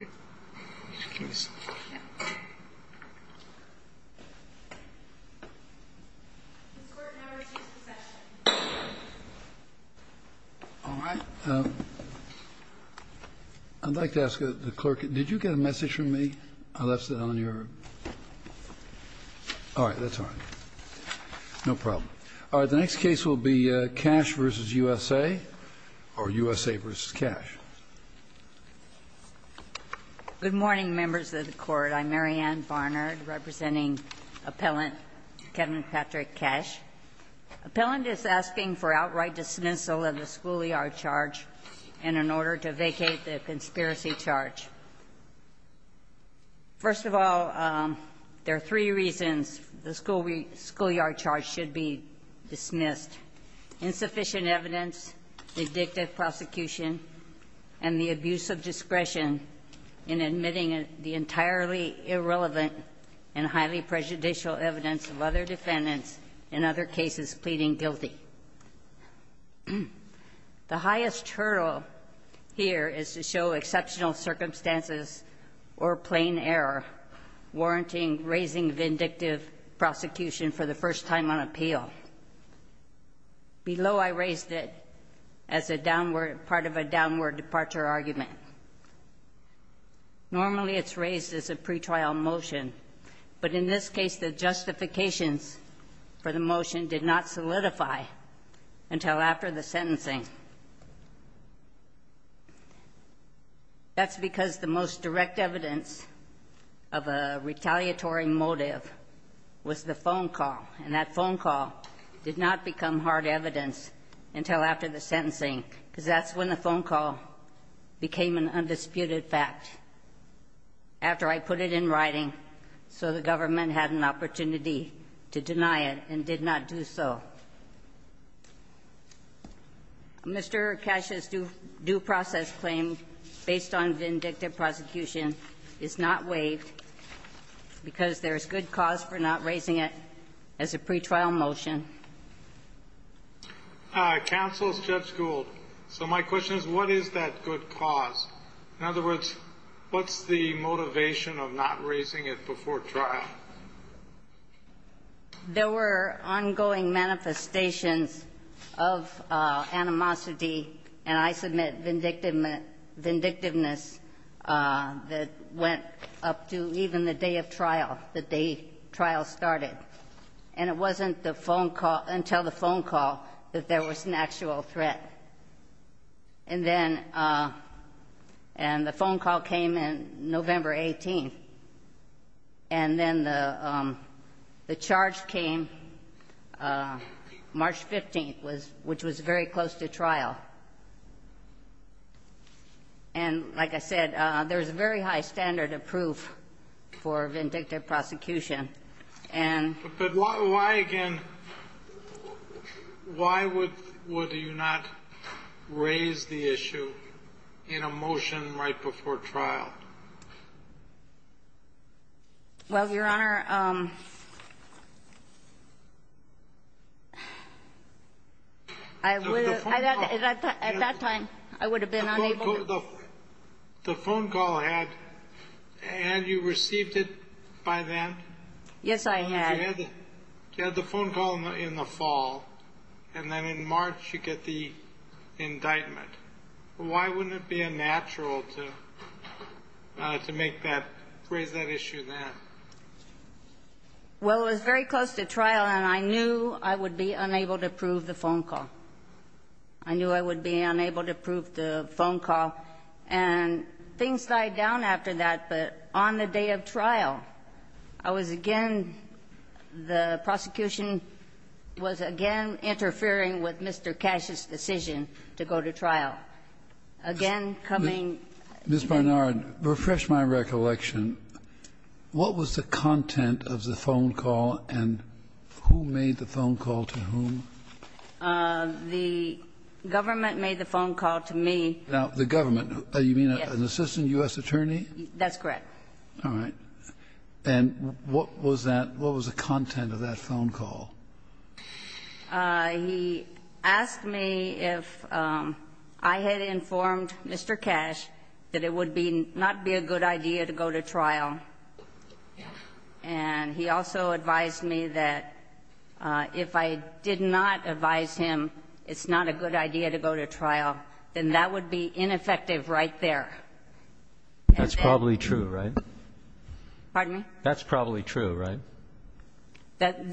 Did you get a message from me? I left it on your. All right, that's all right. No problem. All right, the next case will be Cash v. USA, or USA v. Cash. Good morning, members of the Court. I'm Mary Ann Barnard, representing Appellant Kevin Patrick Cash. Appellant is asking for outright dismissal of the schoolyard charge and an order to vacate the conspiracy charge. First of all, there are three reasons the schoolyard charge should be dismissed. Insufficient evidence, the addictive prosecution, and the abuse of discretion in admitting the entirely irrelevant and highly prejudicial evidence of other defendants in other cases pleading guilty. The highest hurdle here is to show exceptional circumstances or plain error warranting raising vindictive prosecution for the first time on appeal. Below, I raised it as a downward – part of a downward departure argument. Normally, it's raised as a pretrial motion, but in this case, the justifications for the motion did not solidify until after the sentencing. That's because the most direct evidence of a retaliatory motive was the phone call, and that phone call did not become hard evidence until after the sentencing, because that's when the phone call became an undisputed fact, after I put it in writing so the government had an opportunity to deny it and did not do so. Mr. Cash's due process claim, based on vindictive prosecution, is not waived because there is good cause for not raising it as a pretrial motion. Counsel, Judge Gould, so my question is, what is that good cause? In other words, what's the motivation of not raising it before trial? There were ongoing manifestations of animosity, and I submit vindictiveness, that went up to even the day of trial, the day trial started. And it wasn't the phone call – until the phone call that there was an actual threat. And then – and the phone call came in November 18th. And then the charge came March 15th, which was very close to trial. And like I said, there's a very high standard of proof for vindictive prosecution. But why, again, why would you not raise the issue in a motion right before trial? Well, Your Honor, I would have – at that time, I would have been unable to – The phone call had – had you received it by then? Yes, I had. You had the phone call in the fall, and then in March you get the indictment. Why wouldn't it be a natural to make that – raise that issue then? Well, it was very close to trial, and I knew I would be unable to prove the phone call. I knew I would be unable to prove the phone call. And things died down after that. But on the day of trial, I was again – the prosecution was again interfering with Mr. Cash's decision to go to trial. Again, coming – Ms. Barnard, refresh my recollection. What was the content of the phone call, and who made the phone call to whom? The government made the phone call to me. Now, the government – you mean an assistant U.S. attorney? That's correct. All right. And what was that – what was the content of that phone call? He asked me if I had informed Mr. Cash that it would be – not be a good idea to go to trial. And he also advised me that if I did not advise him it's not a good idea to go to trial, then that would be ineffective right there. That's probably true, right? Pardon me? That's probably true, right?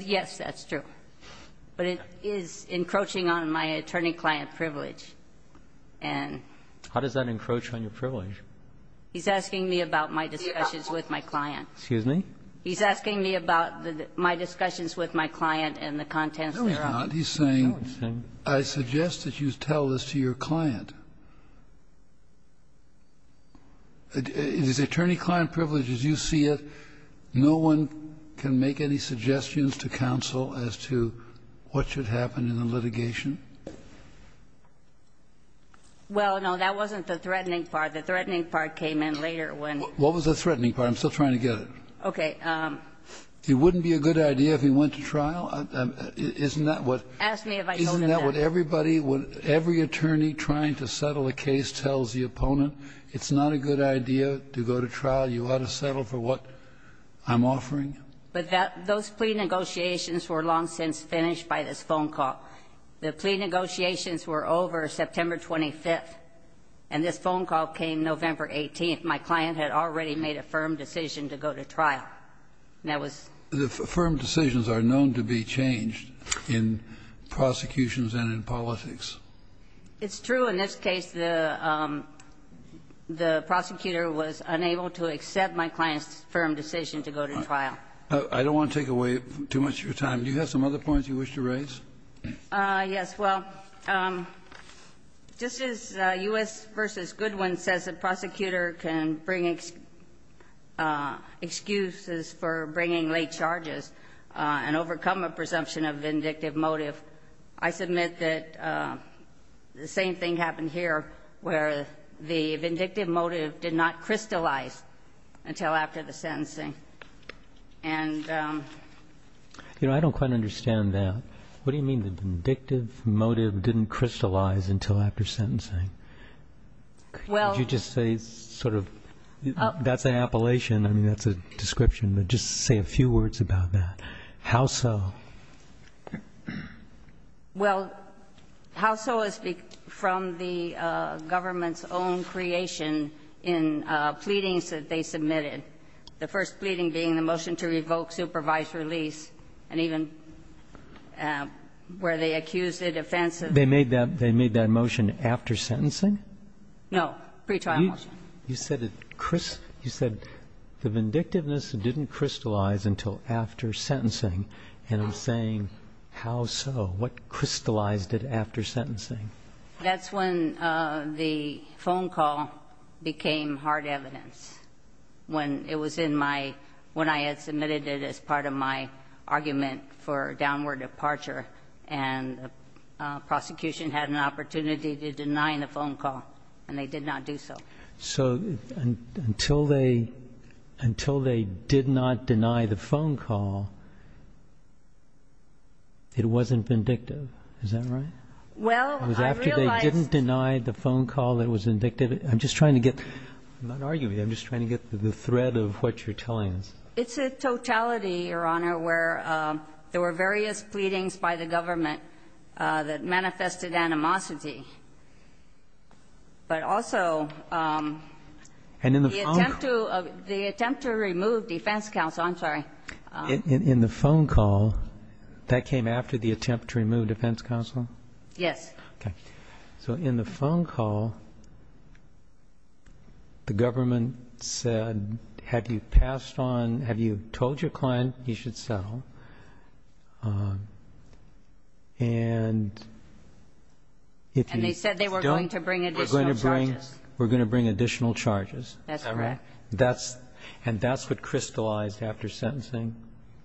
Yes, that's true. But it is encroaching on my attorney-client privilege. And – How does that encroach on your privilege? He's asking me about my discussions with my client. Excuse me? He's asking me about my discussions with my client and the contents thereof. No, he's not. He's saying, I suggest that you tell this to your client. It is attorney-client privilege as you see it. No one can make any suggestions to counsel as to what should happen in the litigation. Well, no, that wasn't the threatening part. The threatening part came in later when – What was the threatening part? I'm still trying to get it. Okay. It wouldn't be a good idea if he went to trial? Isn't that what – Ask me if I told him that. Isn't that what everybody – every attorney trying to settle a case tells the opponent? It's not a good idea to go to trial. You ought to settle for what I'm offering. But that – those plea negotiations were long since finished by this phone call. The plea negotiations were over September 25th, and this phone call came November 18th. My client had already made a firm decision to go to trial. And that was – The firm decisions are known to be changed in prosecutions and in politics. It's true. In this case, the prosecutor was unable to accept my client's firm decision to go to trial. I don't want to take away too much of your time. Do you have some other points you wish to raise? Yes. Well, just as U.S. v. Goodwin says a prosecutor can bring excuses for bringing late charges and overcome a presumption of vindictive motive, I submit that the same thing happened here, where the vindictive motive did not crystallize until after the sentencing. And – You know, I don't quite understand that. What do you mean the vindictive motive didn't crystallize until after sentencing? Well – Could you just say sort of – that's an appellation. I mean, that's a description. But just say a few words about that. How so? Well, how so is from the government's own creation in pleadings that they submitted, the first pleading being the motion to revoke supervised release, and even where they accused the defense of – They made that – they made that motion after sentencing? No, pretrial motion. You said it – you said the vindictiveness didn't crystallize until after sentencing. And I'm saying how so? What crystallized it after sentencing? That's when the phone call became hard evidence, when it was in my – when I had submitted it as part of my argument for downward departure, and the prosecution had an opportunity to deny the phone call, and they did not do so. So until they – until they did not deny the phone call, it wasn't vindictive. Is that right? Well, I realized – It was after they didn't deny the phone call that it was vindictive? I'm just trying to get – I'm not arguing. I'm just trying to get the thread of what you're telling us. It's a totality, Your Honor, where there were various pleadings by the government that manifested animosity, but also the attempt to remove defense counsel – I'm sorry. In the phone call, that came after the attempt to remove defense counsel? Yes. Okay. So in the phone call, the government said, have you passed on – have you told your client he should settle? And if he's still – And they said they were going to bring additional charges. Were going to bring additional charges. That's correct. Is that right? And that's what crystallized after sentencing?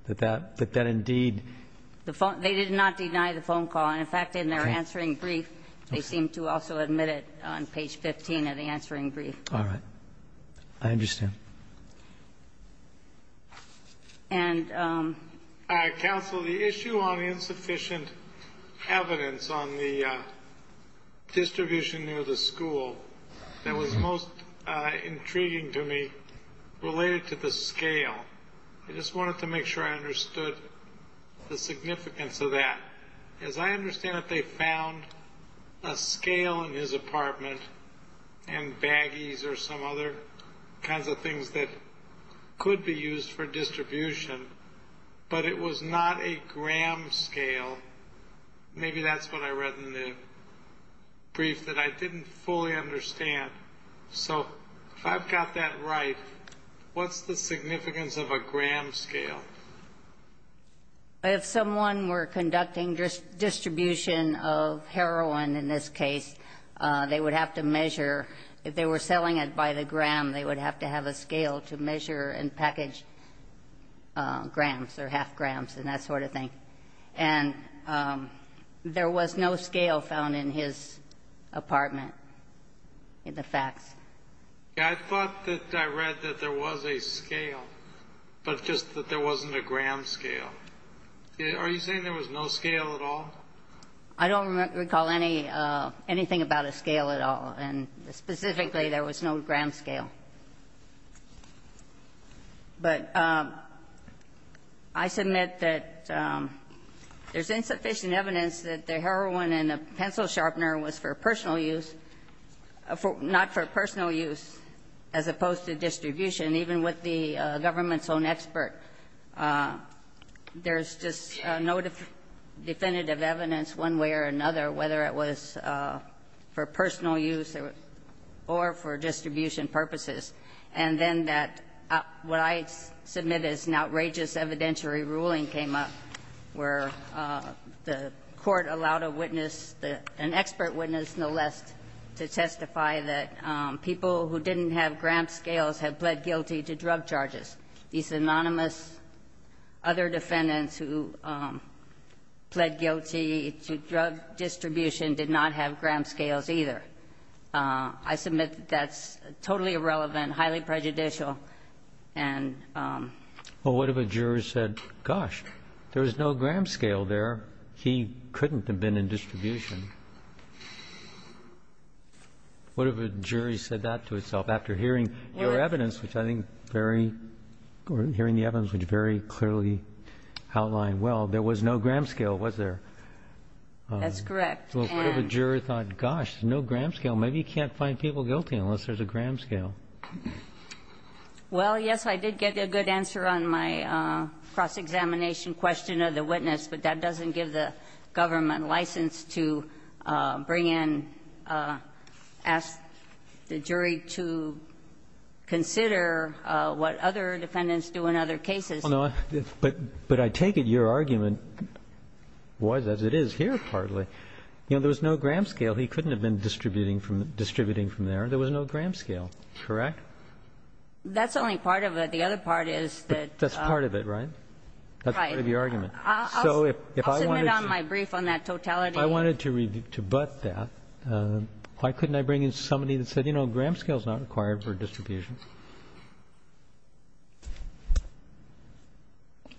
That that indeed – They did not deny the phone call. In fact, in their answering brief, they seem to also admit it on page 15 of the answering brief. All right. I understand. And – Counsel, the issue on insufficient evidence on the distribution near the school that was most intriguing to me related to the scale. I just wanted to make sure I understood the significance of that. Because I understand that they found a scale in his apartment and baggies or some other kinds of things that could be used for distribution, but it was not a gram scale. Maybe that's what I read in the brief that I didn't fully understand. So if I've got that right, what's the significance of a gram scale? If someone were conducting distribution of heroin, in this case, they would have to measure – if they were selling it by the gram, they would have to have a scale to measure and package grams or half grams and that sort of thing. And there was no scale found in his apartment in the facts. I thought that I read that there was a scale, but just that there wasn't a gram scale. Are you saying there was no scale at all? I don't recall anything about a scale at all, and specifically there was no gram scale. But I submit that there's insufficient evidence that the heroin in the pencil sharpener was for personal use – not for personal use as opposed to distribution, even with the government's own expert. There's just no definitive evidence one way or another whether it was for personal use or for distribution purposes. And then that – what I submit is an outrageous evidentiary ruling came up where the court allowed a witness, an expert witness no less, to testify that people who didn't have gram scales had pled guilty to drug charges. These anonymous other defendants who pled guilty to drug distribution did not have gram scales either. I submit that that's totally irrelevant, highly prejudicial, and – Well, what if a jury said, gosh, there was no gram scale there? He couldn't have been in distribution. What if a jury said that to itself after hearing your evidence, which I think very – hearing the evidence which very clearly outlined, well, there was no gram scale, was there? That's correct. Well, what if a jury thought, gosh, no gram scale. Maybe you can't find people guilty unless there's a gram scale. Well, yes, I did get a good answer on my cross-examination question of the witness, but that doesn't give the government license to bring in – ask the jury to consider what other defendants do in other cases. But I take it your argument was as it is here partly. You know, there was no gram scale. He couldn't have been distributing from there. There was no gram scale, correct? That's only part of it. The other part is that – That's part of it, right? Right. That's part of your argument. So if I wanted to – I'll submit my brief on that totality. If I wanted to butt that, why couldn't I bring in somebody that said, you know, gram scale is not required for distribution?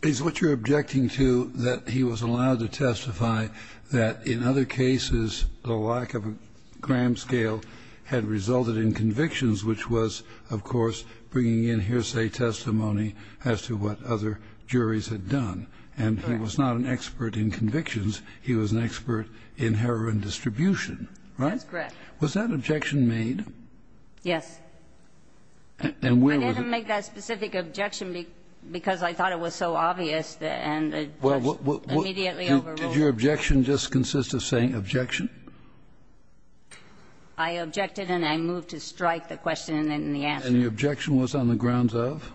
Is what you're objecting to that he was allowed to testify that in other cases the lack of a gram scale had resulted in convictions, which was, of course, bringing in hearsay testimony as to what other juries had done? Correct. And he was not an expert in convictions. He was an expert in heroin distribution, right? That's correct. Was that objection made? Yes. And where was it? I didn't make that specific objection because I thought it was so obvious and it was immediately overruled. Did your objection just consist of saying objection? I objected and I moved to strike the question and the answer. And the objection was on the grounds of?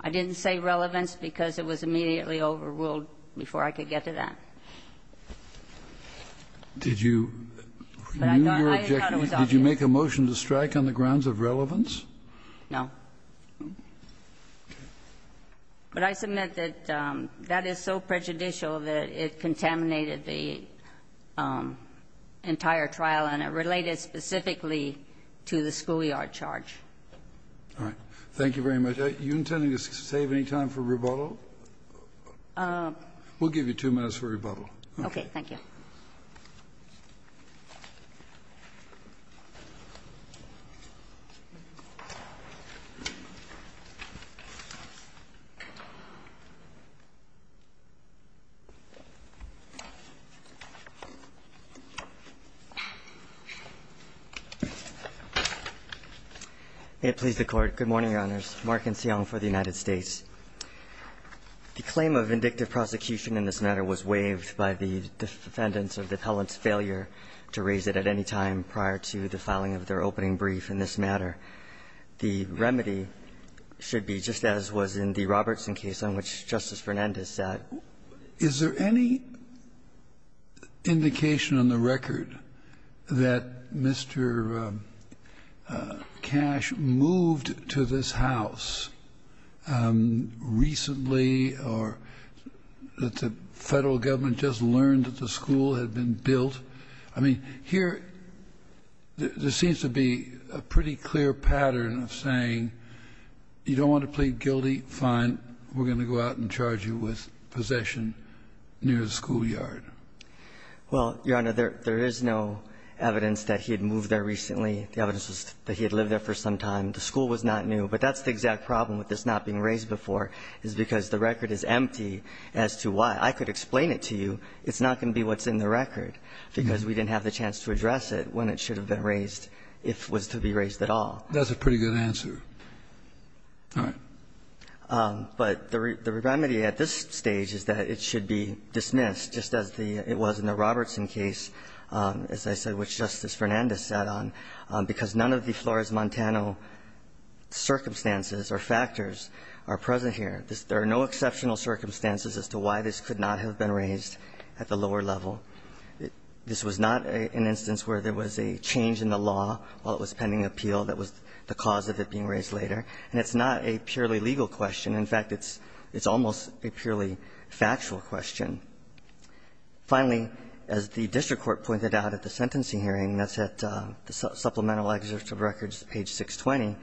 I didn't say relevance because it was immediately overruled before I could get to that. Did you – I thought it was obvious. Did you make a motion to strike on the grounds of relevance? No. But I submit that that is so prejudicial that it contaminated the entire trial and it related specifically to the schoolyard charge. All right. Thank you very much. Are you intending to save any time for rebuttal? We'll give you two minutes for rebuttal. Okay. Thank you. May it please the Court. Good morning, Your Honors. Mark Enseong for the United States. The claim of vindictive prosecution in this matter was waived by the defendants of the appellant's failure to raise it at any time prior to the filing of their opening brief in this matter. The remedy should be just as was in the Robertson case on which Justice Fernandez sat. Is there any indication on the record that Mr. Cash moved to this house recently or that the Federal Government just learned that the school had been built? I mean, here there seems to be a pretty clear pattern of saying you don't want to plead guilty, fine. We're going to go out and charge you with possession near the schoolyard. Well, Your Honor, there is no evidence that he had moved there recently. The evidence is that he had lived there for some time. The school was not new. But that's the exact problem with this not being raised before is because the record is empty as to why. I could explain it to you. It's not going to be what's in the record because we didn't have the chance to address it when it should have been raised if it was to be raised at all. That's a pretty good answer. All right. But the remedy at this stage is that it should be dismissed just as it was in the Robertson case, as I said, which Justice Fernandez sat on, because none of the Flores-Montano circumstances or factors are present here. There are no exceptional circumstances as to why this could not have been raised at the lower level. This was not an instance where there was a change in the law while it was pending appeal that was the cause of it being raised later. And it's not a purely legal question. In fact, it's almost a purely factual question. Finally, as the district court pointed out at the sentencing hearing, that's at the supplemental excerpt of records, page 620,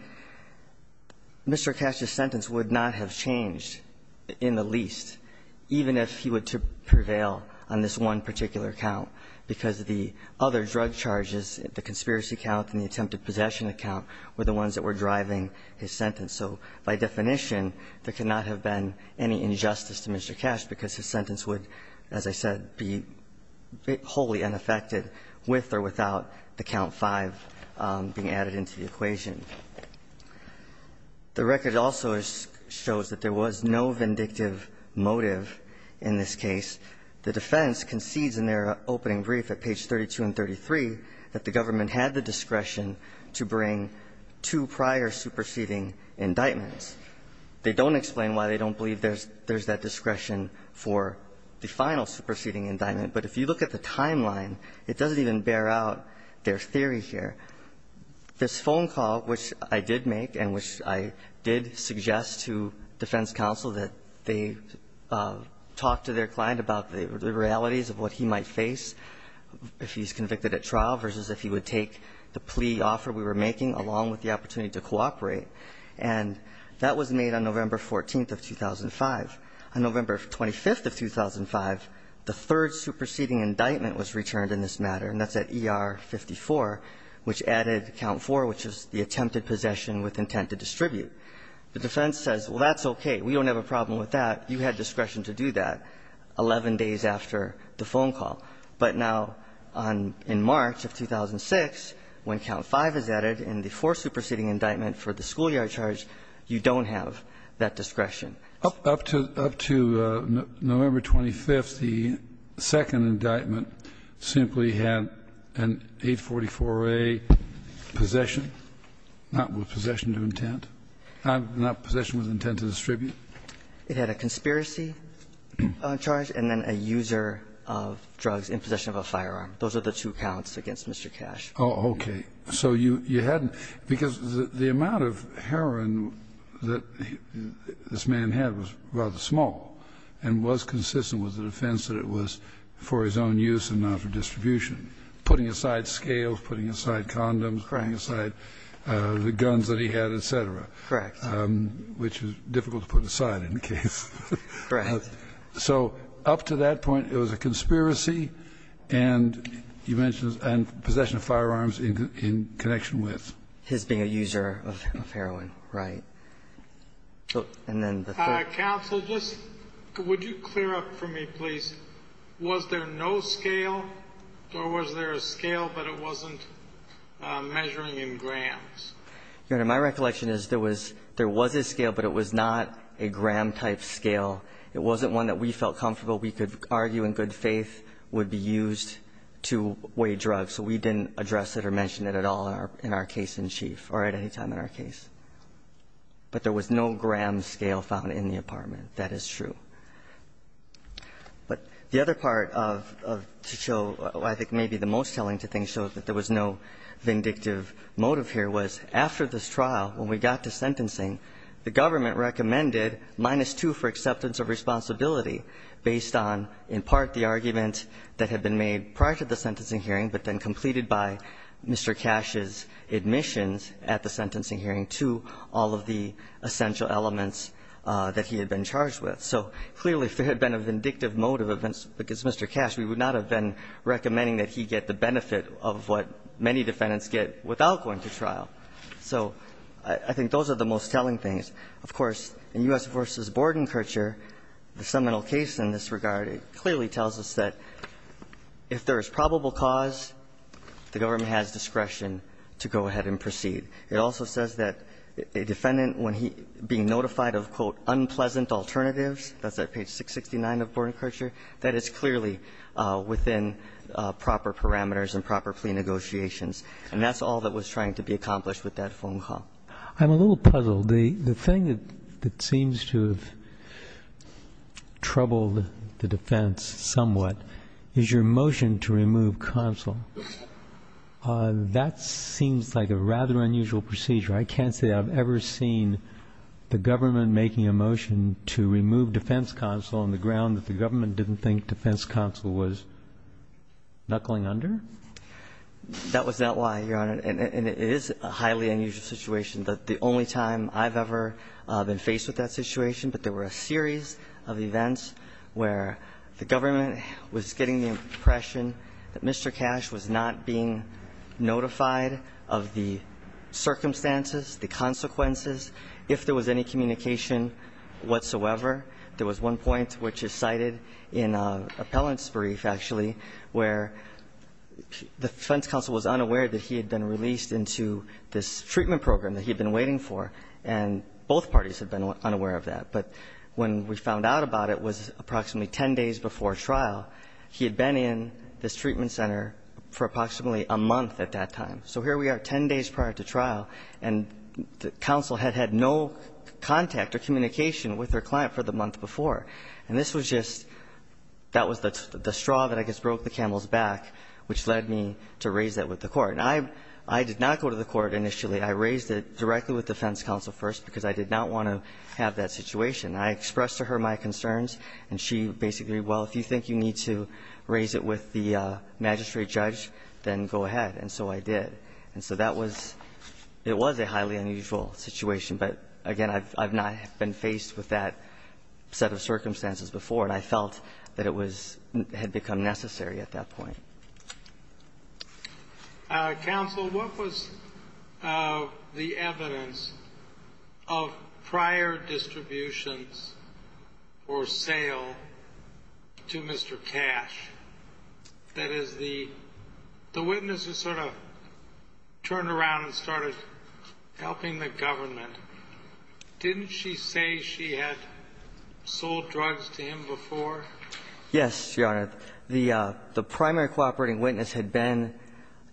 Mr. Cash's sentence would not have changed in the least, even if he were to prevail on this one particular count, because the other drug charges, the conspiracy count and the attempted possession account, were the ones that were driving his sentence. So by definition, there could not have been any injustice to Mr. Cash because his sentence would, as I said, be wholly unaffected with or without the count 5 being added into the equation. The record also shows that there was no vindictive motive in this case. The defense concedes in their opening brief at page 32 and 33 that the government had the discretion to bring two prior superseding indictments. They don't explain why they don't believe there's that discretion for the final superseding indictment. But if you look at the timeline, it doesn't even bear out their theory here. This phone call, which I did make and which I did suggest to defense counsel, that they talk to their client about the realities of what he might face if he's going to make the plea offer we were making along with the opportunity to cooperate. And that was made on November 14th of 2005. On November 25th of 2005, the third superseding indictment was returned in this matter, and that's at ER 54, which added count 4, which is the attempted possession with intent to distribute. The defense says, well, that's okay. We don't have a problem with that. You had discretion to do that 11 days after the phone call. But now in March of 2006, when count 5 is added in the fourth superseding indictment for the schoolyard charge, you don't have that discretion. Up to November 25th, the second indictment simply had an 844A possession, not with possession of intent, not possession with intent to distribute. It had a conspiracy charge and then a user of drugs in possession of a firearm. Those are the two counts against Mr. Cash. Oh, okay. So you hadn't ñ because the amount of heroin that this man had was rather small and was consistent with the defense that it was for his own use and not for distribution, putting aside scales, putting aside condoms, putting aside the guns that he had, et cetera. Correct. Which was difficult to put aside in the case. Correct. So up to that point, it was a conspiracy and you mentioned possession of firearms in connection with? His being a user of heroin. Right. Counsel, would you clear up for me, please? Was there no scale or was there a scale but it wasn't measuring in grams? Your Honor, my recollection is there was a scale but it was not a gram-type scale. It wasn't one that we felt comfortable we could argue in good faith would be used to weigh drugs. So we didn't address it or mention it at all in our case in chief or at any time in our case. But there was no gram scale found in the apartment. That is true. But the other part of ñ to show I think maybe the most telling to things, so that there was no vindictive motive here, was after this trial, when we got to sentencing, the government recommended minus 2 for acceptance of responsibility based on, in part, the argument that had been made prior to the sentencing hearing but then completed by Mr. Cash's admissions at the sentencing hearing to all of the essential elements that he had been charged with. So clearly if there had been a vindictive motive, because Mr. Cash, we would not have been recommending that he get the benefit of what many defendants get without going to trial. So I think those are the most telling things. Of course, in U.S. v. Bordenkercher, the seminal case in this regard, it clearly tells us that if there is probable cause, the government has discretion to go ahead and proceed. It also says that a defendant, when he being notified of, quote, unpleasant alternatives, that's at page 669 of Bordenkercher, that is clearly within proper parameters and proper plea negotiations. And that's all that was trying to be accomplished with that phone call. I'm a little puzzled. The thing that seems to have troubled the defense somewhat is your motion to remove counsel. That seems like a rather unusual procedure. I can't say that I've ever seen the government making a motion to remove defense counsel on the ground that the government didn't think defense counsel was knuckling under. That was not why, Your Honor. And it is a highly unusual situation. The only time I've ever been faced with that situation, but there were a series of events where the government was getting the impression that Mr. Cash was not being notified of the circumstances, the consequences, if there was any communication whatsoever. There was one point which is cited in an appellant's brief, actually, where the defense counsel was unaware that he had been released into this treatment program that he had been waiting for, and both parties had been unaware of that. But when we found out about it, it was approximately ten days before trial, he had been in this treatment center for approximately a month at that time. So here we are ten days prior to trial, and counsel had had no contact or communication with their client for the month before. And this was just, that was the straw that I guess broke the camel's back, which led me to raise that with the court. And I did not go to the court initially. I raised it directly with defense counsel first because I did not want to have that situation. I expressed to her my concerns, and she basically, well, if you think you need to raise it with the magistrate judge, then go ahead. And so I did. And so that was, it was a highly unusual situation. But, again, I've not been faced with that set of circumstances before, and I felt that it was, had become necessary at that point. Counsel, what was the evidence of prior distributions or sale to Mr. Cash? That is, the witness has sort of turned around and started helping the government. Didn't she say she had sold drugs to him before? Yes, Your Honor. The primary cooperating witness had been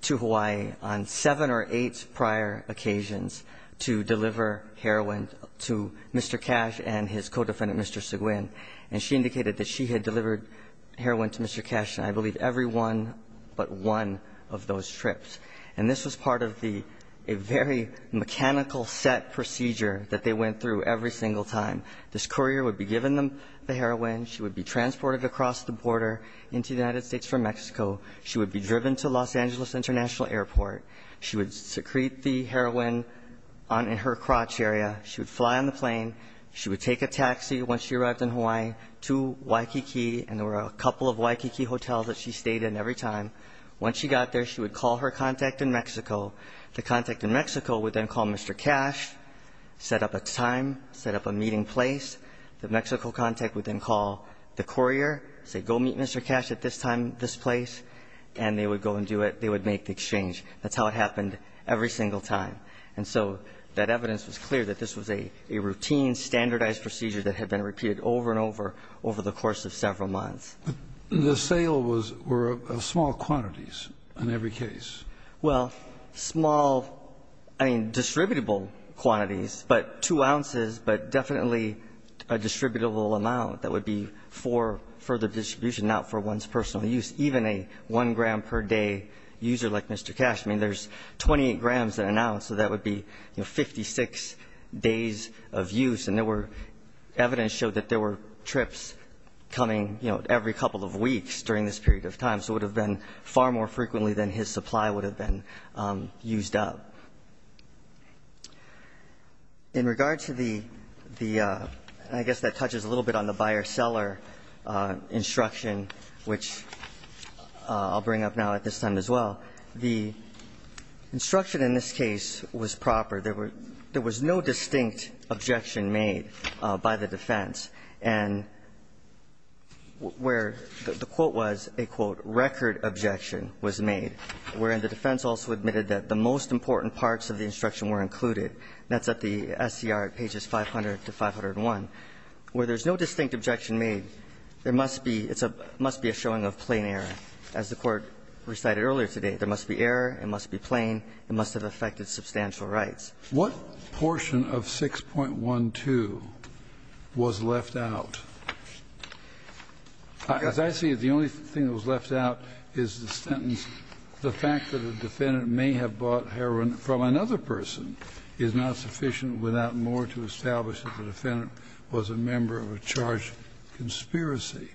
to Hawaii on seven or eight prior occasions to deliver heroin to Mr. Cash and his co-defendant, Mr. Seguin. And she indicated that she had delivered heroin to Mr. Cash in, I believe, every one but one of those trips. And this was part of the, a very mechanical set procedure that they went through every single time. This courier would be given them the heroin. She would be transported across the border into the United States from Mexico. She would be driven to Los Angeles International Airport. She would secrete the heroin in her crotch area. She would fly on the plane. She would take a taxi once she arrived in Hawaii to Waikiki. And there were a couple of Waikiki hotels that she stayed in every time. Once she got there, she would call her contact in Mexico. The contact in Mexico would then call Mr. Cash, set up a time, set up a meeting place. The Mexico contact would then call the courier, say, go meet Mr. Cash at this time, this place. And they would go and do it. They would make the exchange. That's how it happened every single time. And so that evidence was clear that this was a routine, standardized procedure that had been repeated over and over, over the course of several months. The sale was, were small quantities in every case. Well, small, I mean, distributable quantities, but two ounces, but definitely a distributable amount that would be for further distribution, not for one's personal use. Even a one gram per day user like Mr. Cash, I mean, there's 28 grams in an ounce. So that would be 56 days of use. And there were, evidence showed that there were trips coming, you know, every couple of weeks during this period of time. So it would have been far more frequently than his supply would have been used up. In regard to the, the, I guess that touches a little bit on the buyer-seller instruction, which I'll bring up now at this time as well. The instruction in this case was proper. There were, there was no distinct objection made by the defense. And where the quote was, a quote, record objection was made, wherein the defense also admitted that the most important parts of the instruction were included. That's at the SCR at pages 500 to 501. Where there's no distinct objection made, there must be, it's a, must be a showing of plain error. As the Court recited earlier today, there must be error, it must be plain, it must have affected substantial rights. What portion of 6.12 was left out? As I see it, the only thing that was left out is the sentence, the fact that a defendant may have bought heroin from another person is not sufficient without more to establish that the defendant was a member of a charged conspiracy.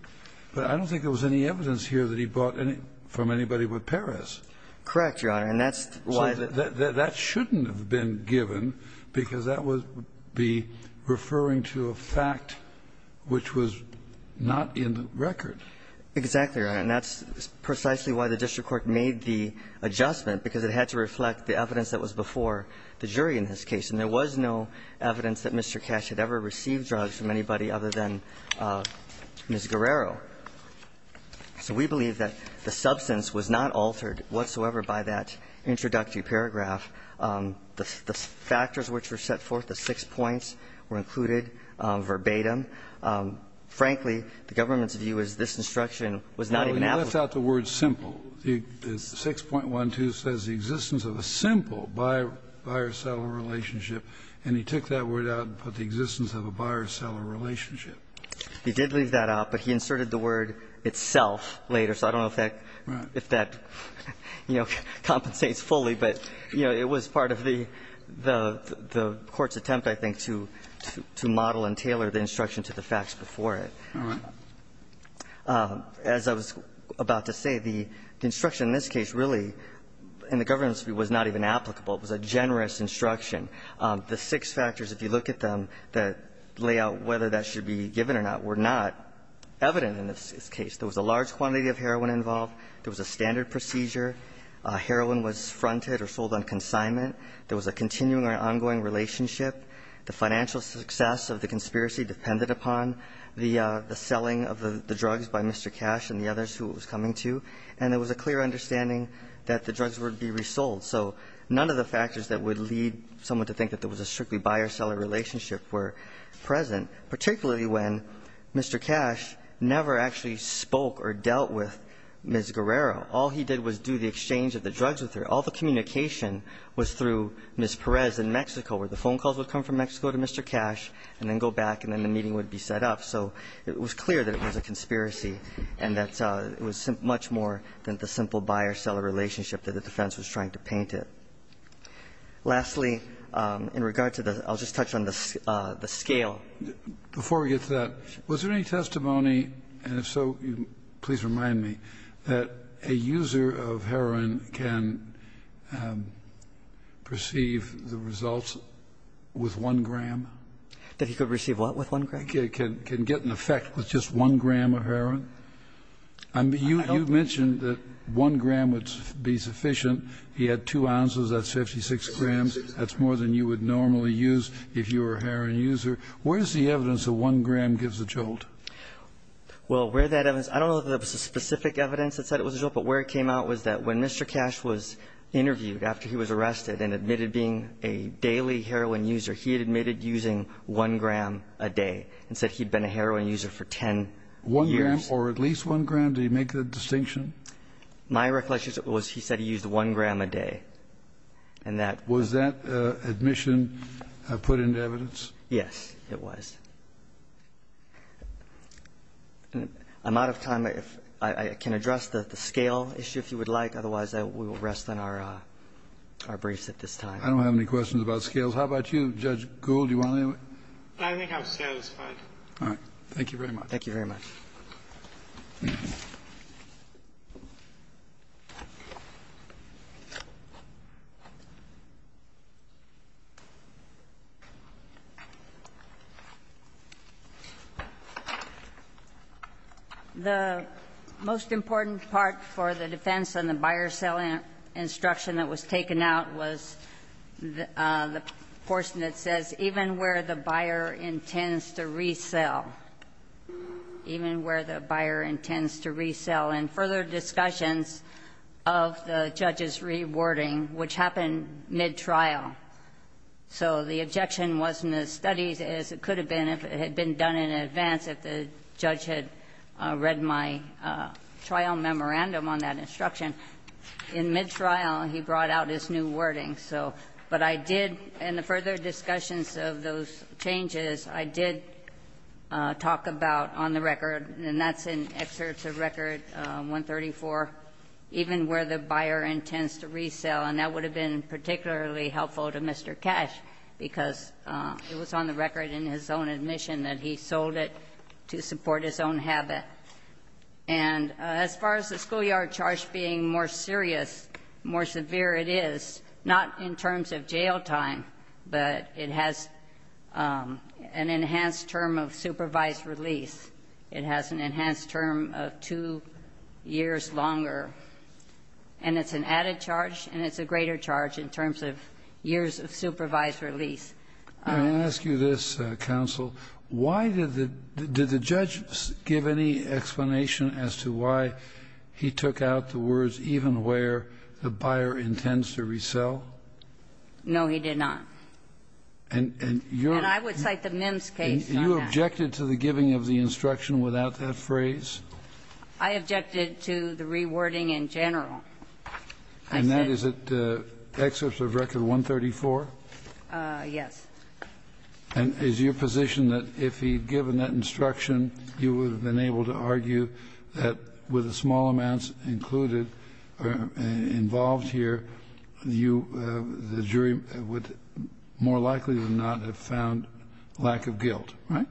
But I don't think there was any evidence here that he bought any, from anybody but Perez. Correct, Your Honor. And that's why. That shouldn't have been given, because that would be referring to a fact which was not in the record. Exactly, Your Honor, and that's precisely why the district court made the adjustment, because it had to reflect the evidence that was before the jury in this case. And there was no evidence that Mr. Cash had ever received drugs from anybody other than Ms. Guerrero. So we believe that the substance was not altered whatsoever by that introductory paragraph. The factors which were set forth, the six points, were included verbatim. Frankly, the government's view is this instruction was not even applicable. No, he left out the word simple. 6.12 says the existence of a simple buyer-seller relationship, and he took that word out and put the existence of a buyer-seller relationship. He did leave that out, but he inserted the word itself later. So I don't know if that, you know, compensates fully, but, you know, it was part of the court's attempt, I think, to model and tailor the instruction to the facts before it. As I was about to say, the instruction in this case really, in the government's view, was not even applicable. It was a generous instruction. The six factors, if you look at them, that lay out whether that should be given or not were not evident in this case. There was a large quantity of heroin involved. There was a standard procedure. Heroin was fronted or sold on consignment. There was a continuing or ongoing relationship. The financial success of the conspiracy depended upon the selling of the drugs by Mr. Cash and the others who it was coming to, and there was a clear understanding that the drugs would be resold. So none of the factors that would lead someone to think that there was a strictly buyer-seller relationship were present, particularly when Mr. Cash never actually spoke or dealt with Ms. Guerrero. All he did was do the exchange of the drugs with her. All the communication was through Ms. Perez in Mexico, where the phone calls would come from Mexico to Mr. Cash and then go back and then the meeting would be set up. So it was clear that it was a conspiracy and that it was much more than the simple buyer-seller relationship that the defense was trying to paint it. Lastly, in regard to the – I'll just touch on the scale. Before we get to that, was there any testimony, and if so, please remind me, that a user of heroin can perceive the results with 1 gram? That he could receive what with 1 gram? Can get an effect with just 1 gram of heroin? You mentioned that 1 gram would be sufficient. He had 2 ounces. That's 56 grams. That's more than you would normally use if you were a heroin user. Where is the evidence that 1 gram gives a jolt? Well, where that evidence – I don't know if there was specific evidence that said it was a jolt, but where it came out was that when Mr. Cash was interviewed after he was arrested and admitted being a daily heroin user, he had admitted using 1 gram a day and said he'd been a heroin user for 10 years. 1 gram or at least 1 gram? Did he make that distinction? My recollection is that he said he used 1 gram a day. Was that admission put into evidence? Yes, it was. I'm out of time. I can address the scale issue if you would like. Otherwise, we will rest on our briefs at this time. I don't have any questions about scales. How about you, Judge Gould? Do you want any? I think I'm satisfied. All right. Thank you very much. Thank you very much. The most important part for the defense on the buyer-sell instruction that was taken out was the portion that says, even where the buyer intends to resell, even where the buyer intends to resell, and further discussions of the judge's rewording, which happened mid-trial. So the objection wasn't as studied as it could have been if it had been done in advance if the judge had read my trial memorandum on that instruction. In mid-trial, he brought out his new wording. So, but I did, in the further discussions of those changes, I did talk about on the record, and that's in excerpts of Record 134, even where the buyer intends to resell, and that would have been particularly helpful to Mr. Cash, because it was on the record in his own admission that he sold it to support his own habit. And as far as the schoolyard charge being more serious, more severe, it is, not in terms of jail time, but it has an enhanced term of supervised release. It has an enhanced term of two years longer. And it's an added charge, and it's a greater charge in terms of years of supervised release. I'm going to ask you this, counsel. Why did the judge give any explanation as to why he took out the words, even where the buyer intends to resell? No, he did not. And you're... And I would cite the Mims case on that. You objected to the giving of the instruction without that phrase? I objected to the rewording in general. And that is at excerpts of Record 134? Yes. And is your position that if he'd given that instruction, you would have been able to argue that with the small amounts included or involved here, you, the jury, would more likely than not have found lack of guilt, right?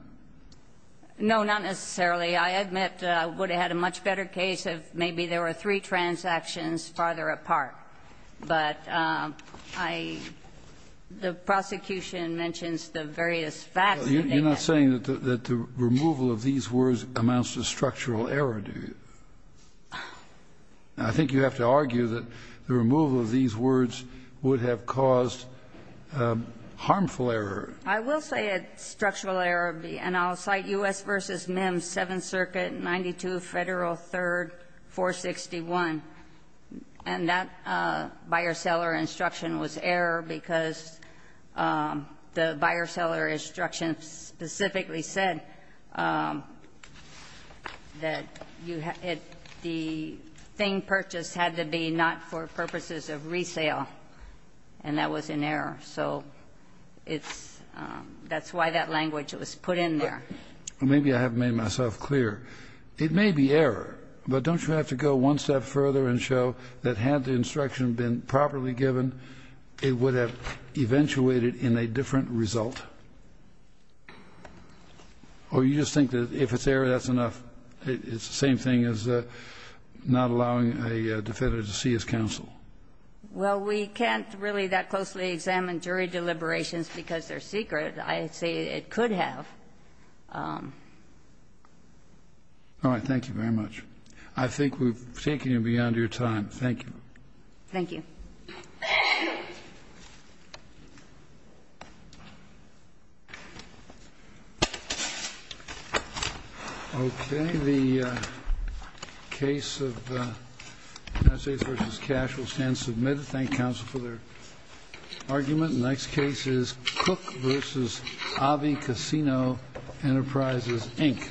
No, not necessarily. I admit I would have had a much better case if maybe there were three transactions farther apart. But I, the prosecution mentions the various facts that they have. You're not saying that the removal of these words amounts to structural error, do you? I think you have to argue that the removal of these words would have caused harmful error. I will say it's structural error. And I'll cite U.S. v. Mims, 7th Circuit, 92 Federal 3rd, 461. And that buyer-seller instruction was error because the buyer-seller instruction specifically said that the thing purchased had to be not for purposes of resale. And that was an error. So it's, that's why that language was put in there. Well, maybe I haven't made myself clear. It may be error, but don't you have to go one step further and show that had the instruction been properly given, it would have eventuated in a different result? Or you just think that if it's error, that's enough? It's the same thing as not allowing a defendant to see his counsel? Well, we can't really that closely examine jury deliberations because they're secret. I'd say it could have. All right. Thank you very much. I think we've taken you beyond your time. Thank you. Thank you. Okay. The case of Messages v. Cash will stand submitted. Thank counsel for their argument. The next case is Cook v. Avi Casino Enterprises, Inc.